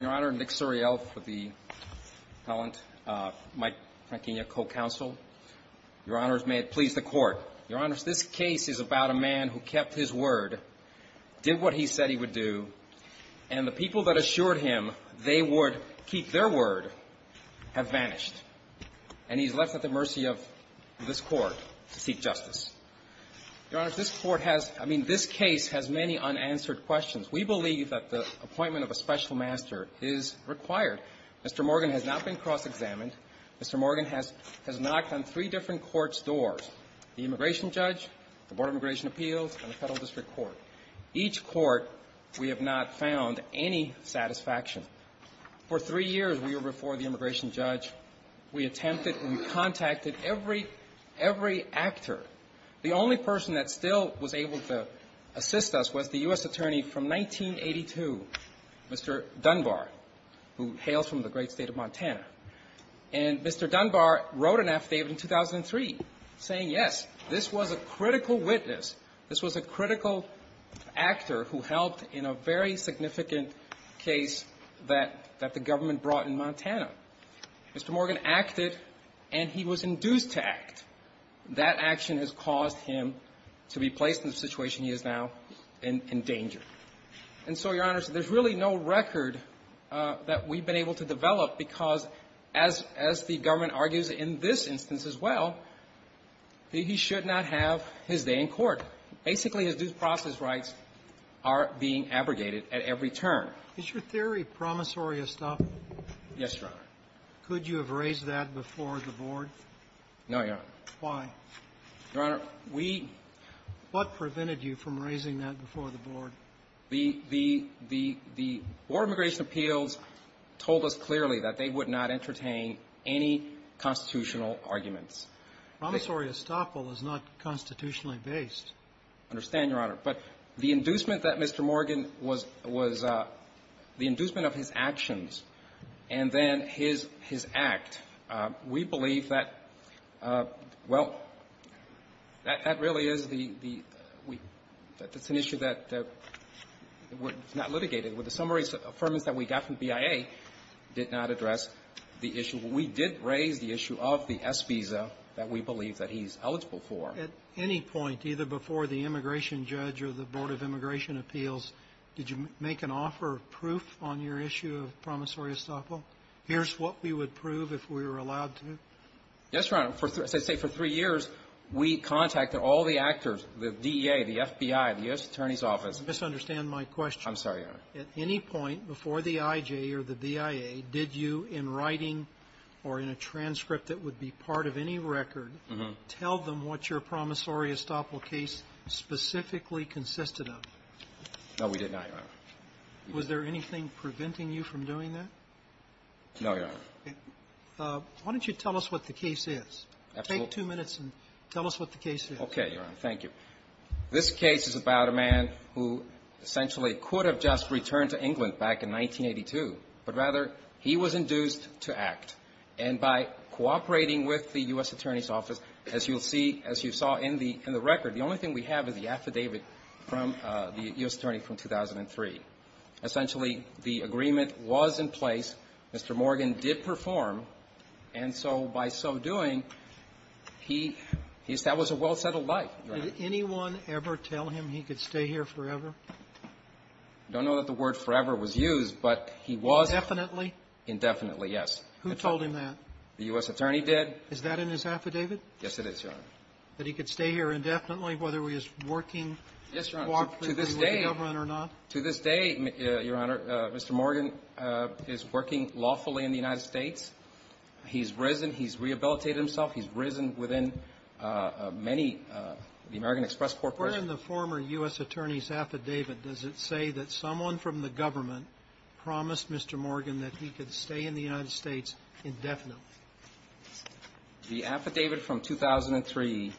Your Honor, Nick Suriel for the appellant, Mike Franquinha, co-counsel. Your Honors, may it please the Court. Your Honors, this case is about a man who kept his word, did what he said he would do, and the people that assured him they would keep their word have vanished. And he's left at the mercy of this Court to seek justice. Your Honors, this Court has — I mean, this case has many unanswered questions. We believe that the appointment of a special master is required. Mr. Morgan has not been cross-examined. Mr. Morgan has — has knocked on three different courts' doors, the Immigration Judge, the Board of Immigration Appeals, and the Federal District Court. Each court, we have not found any satisfaction. For three years, we were before the Immigration Judge. We attempted — we contacted every — every actor. The only person that still was able to assist us was the U.S. Attorney from 1982, Mr. Dunbar, who hails from the great State of Montana. And Mr. Dunbar wrote an affidavit in 2003 saying, yes, this was a critical witness. This was a critical actor who helped in a very significant case that — that the government brought in Montana. Mr. Morgan acted, and he was induced to act. That action has caused him to be placed in the situation he is now in — in danger. And so, Your Honors, there's really no record that we've been able to develop because, as — as the government argues in this instance as well, he should not have his day in court. Basically, his due process rights are being abrogated at every turn. Is your theory promissory of stuff? Could you have raised that before the Board? No, Your Honor. Why? Your Honor, we — What prevented you from raising that before the Board? The — the — the Board of Immigration Appeals told us clearly that they would not entertain any constitutional arguments. Promissory estoppel is not constitutionally based. I understand, Your Honor. But the inducement that Mr. Morgan was — was — the inducement of his actions and then his — his act, we believe that, well, that — that really is the — the — it's an issue that was not litigated. With the summary affirmance that we got from BIA did not address the issue. We did raise the issue of the S visa that we believe that he's eligible for. At any point, either before the immigration judge or the Board of Immigration Here's what we would prove if we were allowed to? Yes, Your Honor. For — say for three years, we contacted all the actors, the DEA, the FBI, the U.S. Attorney's Office. I misunderstand my question. I'm sorry, Your Honor. At any point before the IJ or the BIA, did you, in writing or in a transcript that would be part of any record, tell them what your promissory estoppel case specifically consisted of? No, we did not, Your Honor. Was there anything preventing you from doing that? No, Your Honor. Why don't you tell us what the case is? Absolutely. Take two minutes and tell us what the case is. Okay, Your Honor. Thank you. This case is about a man who essentially could have just returned to England back in 1982. But rather, he was induced to act. And by cooperating with the U.S. Attorney's Office, as you'll see, as you saw in the — in the record, the only thing we have is the affidavit from the U.S. Attorney's Office in 1983. Essentially, the agreement was in place. Mr. Morgan did perform. And so by so doing, he established a well-settled life. Did anyone ever tell him he could stay here forever? I don't know that the word forever was used, but he was — Indefinitely? Indefinitely, yes. Who told him that? The U.S. Attorney did. Is that in his affidavit? Yes, it is, Your Honor. That he could stay here indefinitely, whether he was working, cooperating with the government or not? To this day, Your Honor, Mr. Morgan is working lawfully in the United States. He's risen. He's rehabilitated himself. He's risen within many of the American Express Corp. Where in the former U.S. Attorney's affidavit does it say that someone from the government promised Mr. Morgan that he could stay in the United States indefinitely? The affidavit from 2003,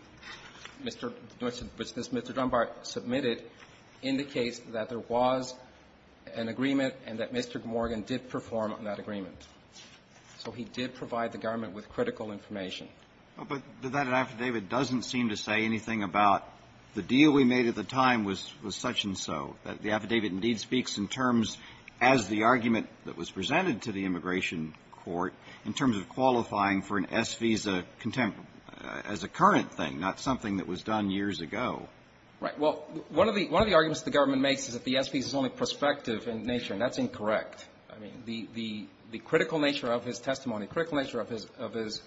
Mr. — which Mr. Dunbar submitted, indicates that there was an agreement and that Mr. Morgan did perform on that agreement. So he did provide the government with critical information. But that affidavit doesn't seem to say anything about the deal we made at the time was such-and-so, that the affidavit indeed speaks in terms as the argument that the immigration court, in terms of qualifying for an S-visa contempt as a current thing, not something that was done years ago. Right. Well, one of the — one of the arguments the government makes is that the S-visa is only prospective in nature, and that's incorrect. I mean, the — the critical nature of his testimony, critical nature of his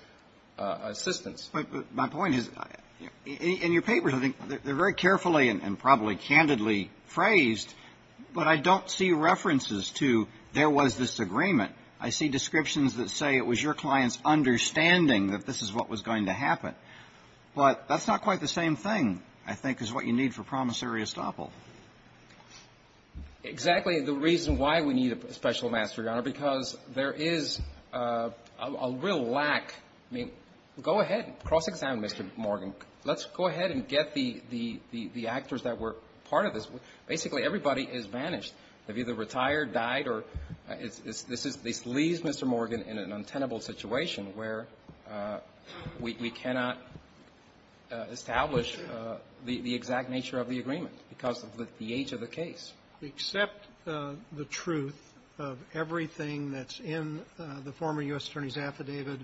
assistance But my point is, in your papers, I think, they're very carefully and probably candidly I see descriptions that say it was your client's understanding that this is what was going to happen. But that's not quite the same thing, I think, is what you need for promissory estoppel. Exactly the reason why we need a special master, Your Honor, because there is a real lack. I mean, go ahead. Cross-examine Mr. Morgan. Let's go ahead and get the — the actors that were part of this. Basically, everybody is vanished. They've either retired, died, or it's — this is — this leaves Mr. Morgan in an untenable situation where we cannot establish the exact nature of the agreement because of the age of the case. Except the truth of everything that's in the former U.S. Attorney's affidavit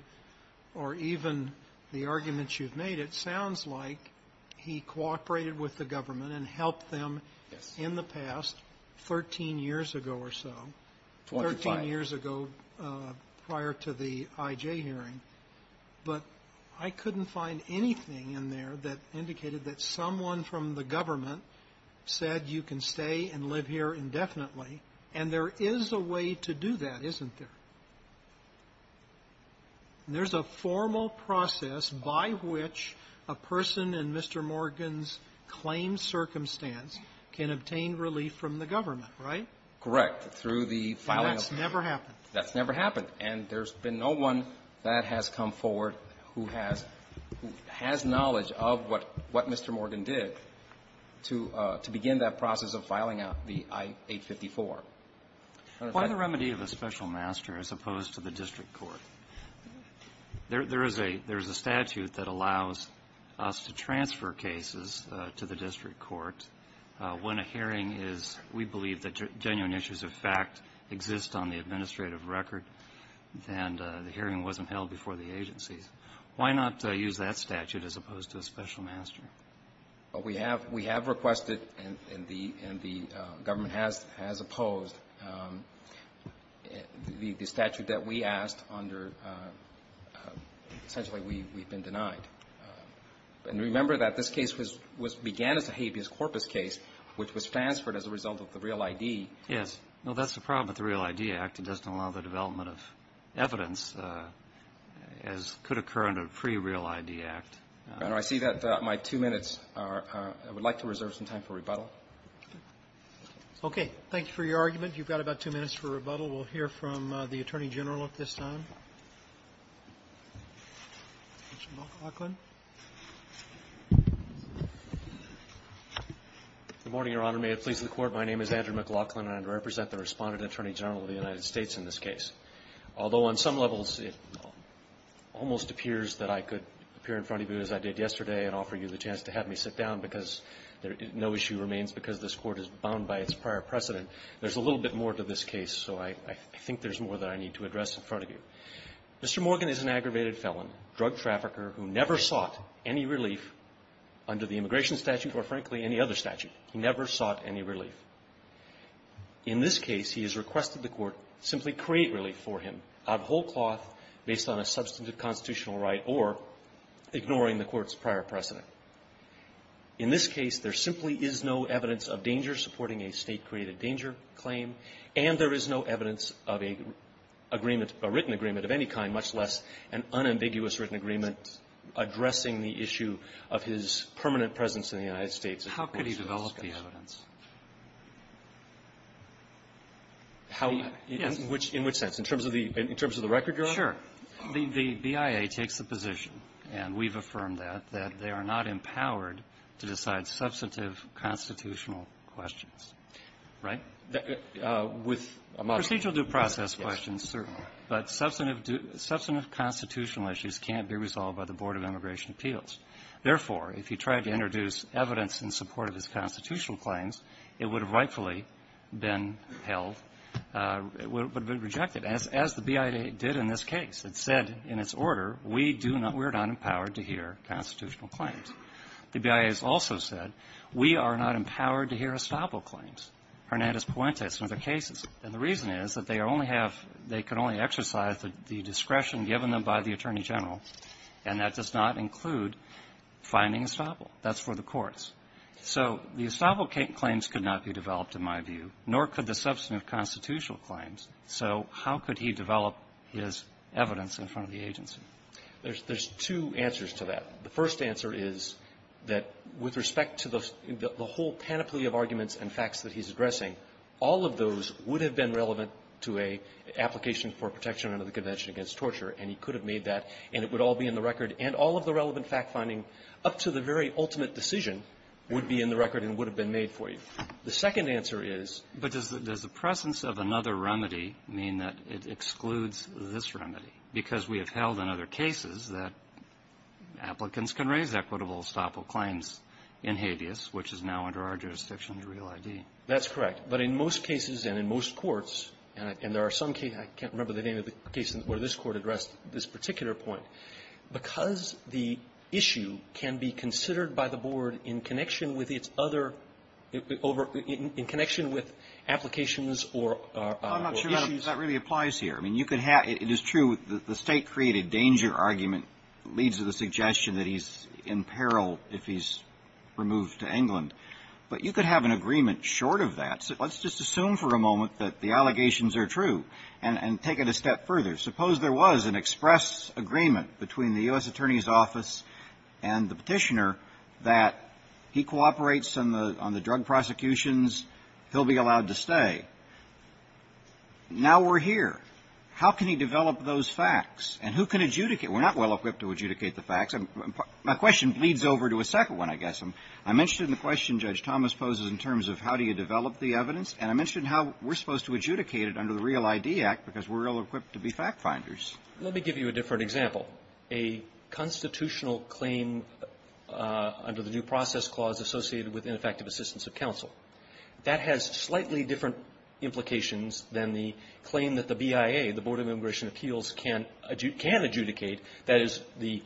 or even the arguments you've made, it sounds like he cooperated with the government and helped them in the past, 13 years ago or so. Twenty-five. Thirteen years ago prior to the I.J. hearing. But I couldn't find anything in there that indicated that someone from the government said you can stay and live here indefinitely. And there is a way to do that, isn't there? There's a formal process by which a person in Mr. Morgan's claimed circumstance can obtain relief from the government, right? Correct. Through the filing of the — And that's never happened. That's never happened. And there's been no one that has come forward who has — who has knowledge of what — what Mr. Morgan did to — to begin that process of filing out the I-854. Why the remedy of a special master as opposed to the district court? There is a — there is a statute that allows us to transfer cases to the district court when a hearing is — we believe that genuine issues of fact exist on the administrative record, and the hearing wasn't held before the agencies. Why not use that statute as opposed to a special master? Well, we have — we have requested, and the — and the government has — has opposed the statute that we asked under — essentially, we've been denied. And remember that this case was — was — began as a habeas corpus case, which was transferred as a result of the REAL-ID. Yes. No, that's the problem with the REAL-ID Act. It doesn't allow the development of evidence, as could occur under a pre-REAL-ID Act. Your Honor, I see that my two minutes are — I would like to reserve some time for rebuttal. Okay. Thank you for your argument. You've got about two minutes for rebuttal. We'll hear from the Attorney General at this time. Mr. McLaughlin. Good morning, Your Honor. May it please the Court, my name is Andrew McLaughlin, and I represent the Respondent Attorney General of the United States in this case. Although on some levels it almost appears that I could appear in front of you as I did yesterday and offer you the chance to have me sit down because there — no issue remains because this Court is bound by its prior precedent, there's a little bit more to this case, so I — I think there's more that I need to address in front of you. Mr. Morgan is an aggravated felon, drug trafficker, who never sought any relief under the immigration statute or, frankly, any other statute. He never sought any relief. In this case, he has requested the Court simply create relief for him out of whole cloth based on a substantive constitutional right or ignoring the Court's prior precedent. In this case, there simply is no evidence of danger supporting a State-created danger claim, and there is no evidence of a agreement — a written agreement of any kind, much less an unambiguous written agreement addressing the issue of his permanent presence in the United States. How could he develop the evidence? How — in which — in which sense? In terms of the — in terms of the record you're on? Sure. The — the BIA takes the position, and we've affirmed that, that they are not empowered to decide substantive constitutional questions, right? With a model — Procedural due process questions, certainly. The BIA has also said, we are not empowered to hear estoppel claims, Hernandez-Puente and other cases. And the reason is that they only have — they can only exercise the — the discretion given them by the Attorney General, and that does not include finding estoppel. That's for the courts. So the estoppel claims could not be developed, in my view, nor could the substantive constitutional claims. So how could he develop his evidence in front of the agency? There's — there's two answers to that. The first answer is that, with respect to the — the whole panoply of arguments and facts that he's addressing, all of those would have been relevant to a application for protection under the Convention Against Torture, and he could have made that, and it would all be in the record, and all of the relevant fact-finding up to the very ultimate decision would be in the record and would have been made for you. The second answer is — But does the — does the presence of another remedy mean that it excludes this remedy? Because we have held in other cases that applicants can raise equitable estoppel claims in habeas, which is now under our jurisdiction, under Real ID. That's correct. But in most cases and in most courts, and there are some cases — I can't remember the name of the case where this Court addressed this particular point. Because the issue can be considered by the Board in connection with its other — over — in connection with applications or issues — Well, I'm not sure that really applies here. I mean, you could have — it is true that the State-created danger argument leads to the suggestion that he's in peril if he's removed to England, but you could have an agreement short of that. Let's just assume for a moment that the allegations are true and take it a step further. Suppose there was an express agreement between the U.S. Attorney's Office and the Petitioner that he cooperates on the — on the drug prosecutions, he'll be allowed to stay. Now we're here. How can he develop those facts? And who can adjudicate? We're not well-equipped to adjudicate the facts. My question leads over to a second one, I guess. I mentioned in the question Judge Thomas poses in terms of how do you develop the evidence, and I mentioned how we're supposed to adjudicate it under the Real I.D. Act because we're ill-equipped to be fact-finders. Let me give you a different example. A constitutional claim under the New Process Clause associated with ineffective assistance of counsel, that has slightly different implications than the claim that the BIA, the Board of Immigration Appeals, can adjudicate, that is, the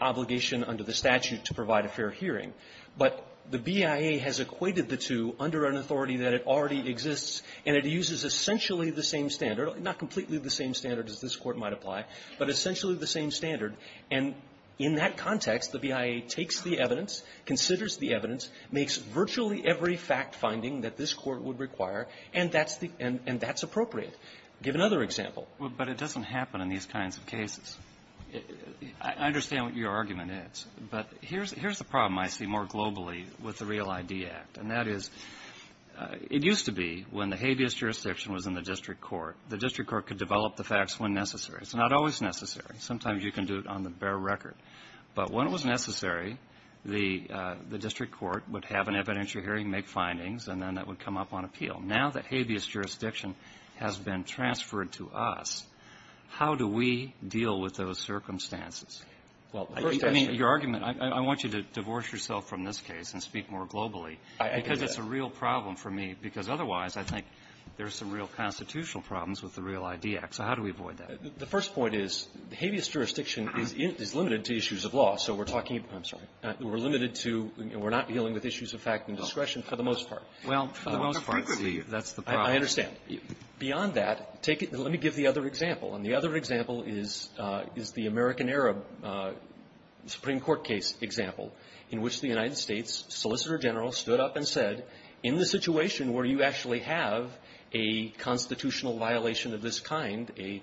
obligation under the statute to provide a fair hearing. But the BIA has equated the two under an authority that it already exists, and it uses essentially the same standard, not completely the same standard as this Court might apply, but essentially the same standard. And in that context, the BIA takes the evidence, considers the evidence, makes virtually every fact-finding that this Court would require, and that's the — and that's appropriate. Give another example. But it doesn't happen in these kinds of cases. I understand what your argument is, but here's the problem I see more globally with the Real I.D. Act, and that is, it used to be when the habeas jurisdiction was in the district court, the district court could develop the facts when necessary. It's not always necessary. Sometimes you can do it on the bare record. But when it was necessary, the district court would have an evidentiary hearing, make findings, and then that would come up on appeal. Now that habeas jurisdiction has been transferred to us, how do we deal with those circumstances? Well, the first — I mean, your argument — I want you to divorce yourself from this case and speak more globally, because it's a real problem for me, because otherwise, I think there are some real constitutional problems with the Real I.D. Act. So how do we avoid that? The first point is, habeas jurisdiction is limited to issues of law. So we're talking — I'm sorry. We're limited to — we're not dealing with issues of fact and discretion for the most part. Well, for the most part, that's the problem. I understand. Beyond that, take it — let me give the other example. And the other example is the American-Era Supreme Court case example, in which the United States Solicitor General stood up and said, in the situation where you actually have a constitutional violation of this kind, a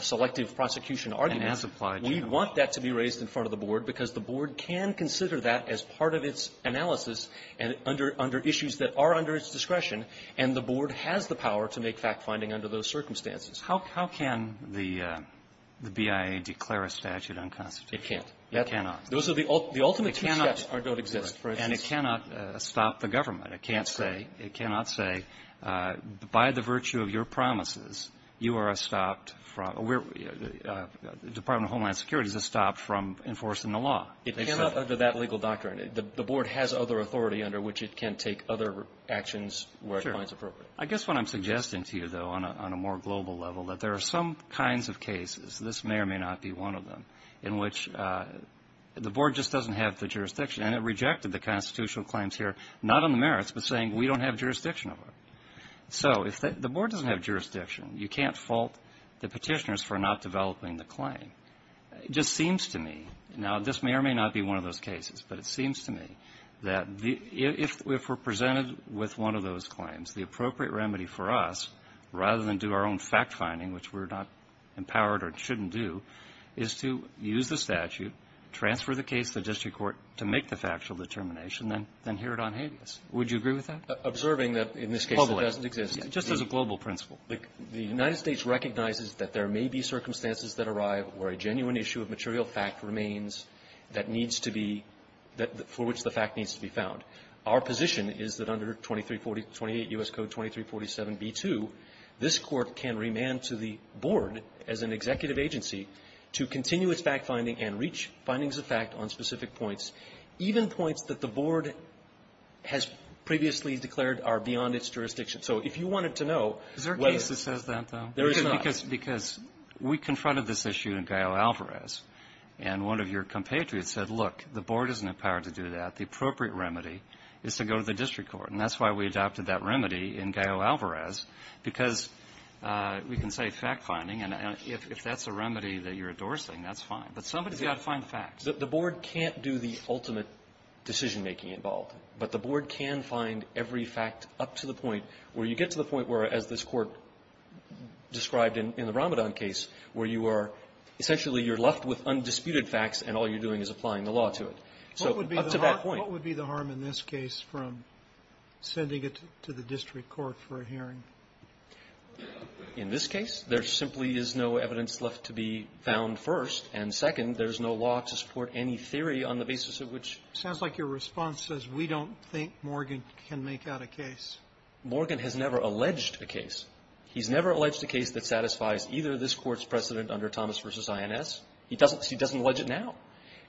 selective prosecution argument, we want that to be raised in front of the Board, because the Board can consider that as part of its analysis and under — under issues that are under its discretion. And the Board has the power to make fact-finding under those circumstances. How — how can the BIA declare a statute unconstitutional? It can't. It cannot. Those are the — the ultimate two steps don't exist. And it cannot stop the government. It can't say — it cannot say, by the virtue of your promises, you are a stopped — Department of Homeland Security is a stop from enforcing the law. It cannot, under that legal doctrine — the Board has other authority under which it can take other actions where it finds appropriate. I guess what I'm suggesting to you, though, on a — on a more global level, that there are some kinds of cases — this may or may not be one of them — in which the Board just doesn't have the jurisdiction. And it rejected the constitutional claims here, not on the merits, but saying, we don't have jurisdiction over it. So if the — the Board doesn't have jurisdiction, you can't fault the petitioners for not developing the claim. It just seems to me — now, this may or may not be one of those cases, but it seems to me that if — if we're presented with one of those claims, the appropriate remedy for us, rather than do our own fact-finding, which we're not empowered or shouldn't do, is to use the statute, transfer the case to the district court to make the factual determination, then — then hear it on habeas. Would you agree with that? Observing that, in this case, it doesn't exist. Public. Just as a global principle. The United States recognizes that there may be circumstances that arrive where a genuine issue of material fact remains that needs to be — for which the fact needs to be found. Our position is that under 2340 — 28 U.S. Code 2347b2, this Court can remand to the Board, as an executive agency, to continue its fact-finding and reach findings of fact on specific points, even points that the Board has previously declared are beyond its jurisdiction. So if you wanted to know whether or not the Board has the power to do that, the appropriate remedy is to go to the district court. And that's why we adopted that remedy in Gallo-Alvarez, because we can say fact-finding, and if that's a remedy that you're endorsing, that's fine. But somebody's got to find facts. The Board can't do the ultimate decision-making involved, but the Board can find every fact up to the point where you get to the point where, as this Court has said, the Board has the power to do that. And that's what's described in the Ramadan case, where you are — essentially, you're left with undisputed facts, and all you're doing is applying the law to it. So up to that point — What would be the harm in this case from sending it to the district court for a hearing? In this case, there simply is no evidence left to be found first. And second, there's no law to support any theory on the basis of which — It sounds like your response says we don't think Morgan can make out a case. Morgan has never alleged a case. He's never alleged a case that satisfies either this Court's precedent under Thomas v. INS. He doesn't — he doesn't allege it now,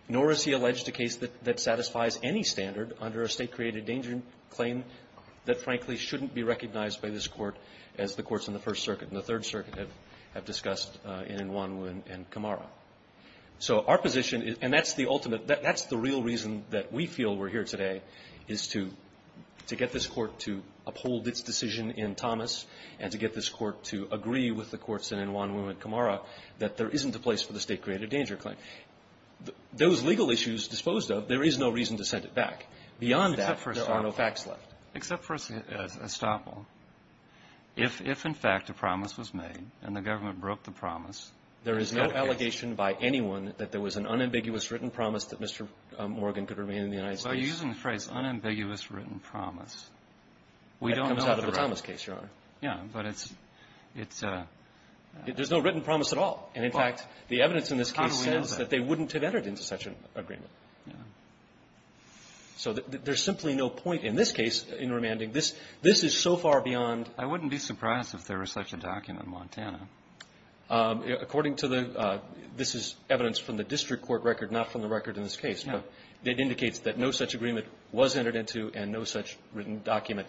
nor has he alleged a case that — that satisfies any standard under a State-created-danger claim that, frankly, shouldn't be recognized by this Court as the courts in the First Circuit and the Third Circuit have — have discussed in Inwanu and Kamara. So our position is — and that's the ultimate — that's the real reason that we feel we're here today, is to — to get this Court to uphold its decision in Thomas and to get this Court to agree with the courts in Inwanu and Kamara that there isn't a place for the State-created-danger claim. Those legal issues disposed of, there is no reason to send it back. Beyond that, there are no facts left. Except for Estoppel. If — if, in fact, a promise was made and the government broke the promise — There is no allegation by anyone that there was an unambiguous written promise that Mr. Morgan could remain in the United States. By using the phrase, unambiguous written promise, we don't know the record. That comes out of the Thomas case, Your Honor. Yeah. But it's — it's — There's no written promise at all. And, in fact, the evidence in this case says that they wouldn't have entered into such an agreement. Yeah. So there's simply no point in this case in remanding. This — this is so far beyond — I wouldn't be surprised if there was such a document in Montana. According to the — this is evidence from the district court record, not from the record in this case, but it indicates that no such agreement was entered into and no such written document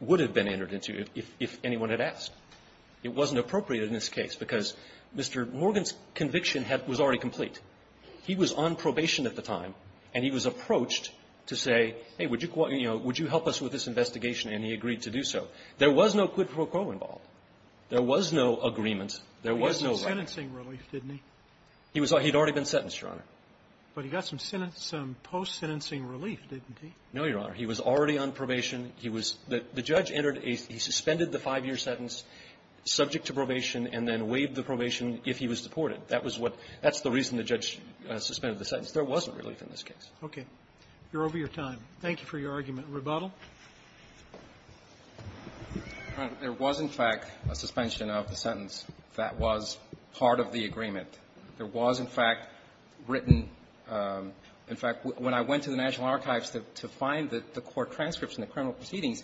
would have been entered into if — if anyone had asked. It wasn't appropriate in this case because Mr. Morgan's conviction had — was already complete. He was on probation at the time, and he was approached to say, hey, would you — you know, would you help us with this investigation, and he agreed to do so. There was no quid pro quo involved. There was no agreement. There was no — He was on sentencing relief, didn't he? He was — he had already been sentenced, Your Honor. But he got some — some post-sentencing relief, didn't he? No, Your Honor. He was already on probation. He was — the judge entered a — he suspended the five-year sentence subject to probation and then waived the probation if he was deported. That was what — that's the reason the judge suspended the sentence. There wasn't relief in this case. Okay. You're over your time. Thank you for your argument. Rebuttal. Your Honor, there was, in fact, a suspension of the sentence that was part of the agreement. There was, in fact, written — in fact, when I went to the National Archives to find the court transcripts and the criminal proceedings,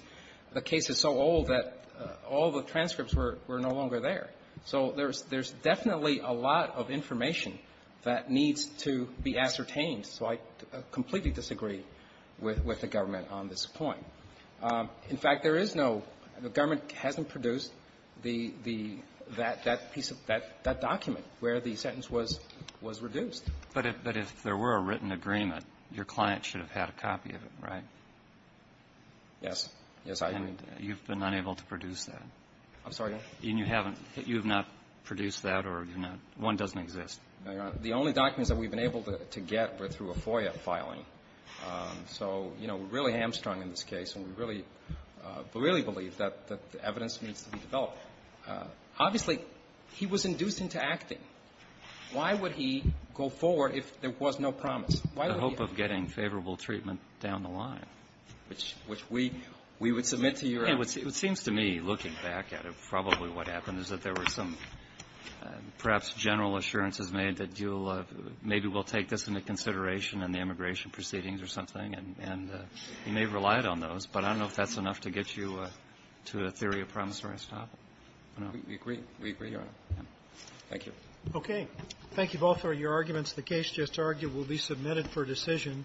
the case is so old that all the transcripts were no longer there. So there's definitely a lot of information that needs to be ascertained. So I completely disagree with the government on this point. In fact, there is no — the government hasn't produced the — that piece of — that document where the sentence was reduced. But if there were a written agreement, your client should have had a copy of it, right? Yes. Yes, I agree. And you've been unable to produce that? I'm sorry, Your Honor? And you haven't — you have not produced that or you're not — one doesn't exist? No, Your Honor. The only documents that we've been able to get were through a FOIA filing. So, you know, we're really hamstrung in this case, and we really — really believe that the evidence needs to be developed. Obviously, he was induced into acting. Why would he go forward if there was no promise? Why would he — The hope of getting favorable treatment down the line. Which — which we — we would submit to your — It would — it seems to me, looking back at it, probably what happened is that there were some, perhaps, general assurances made that you'll — maybe we'll take this into consideration in the immigration proceedings or something, and — and you may have relied on those. But I don't know if that's enough to get you to a theory of promise or a stop. I don't know. We agree. We agree, Your Honor. Thank you. Okay. Thank you both for your arguments. The case just argued will be submitted for decision.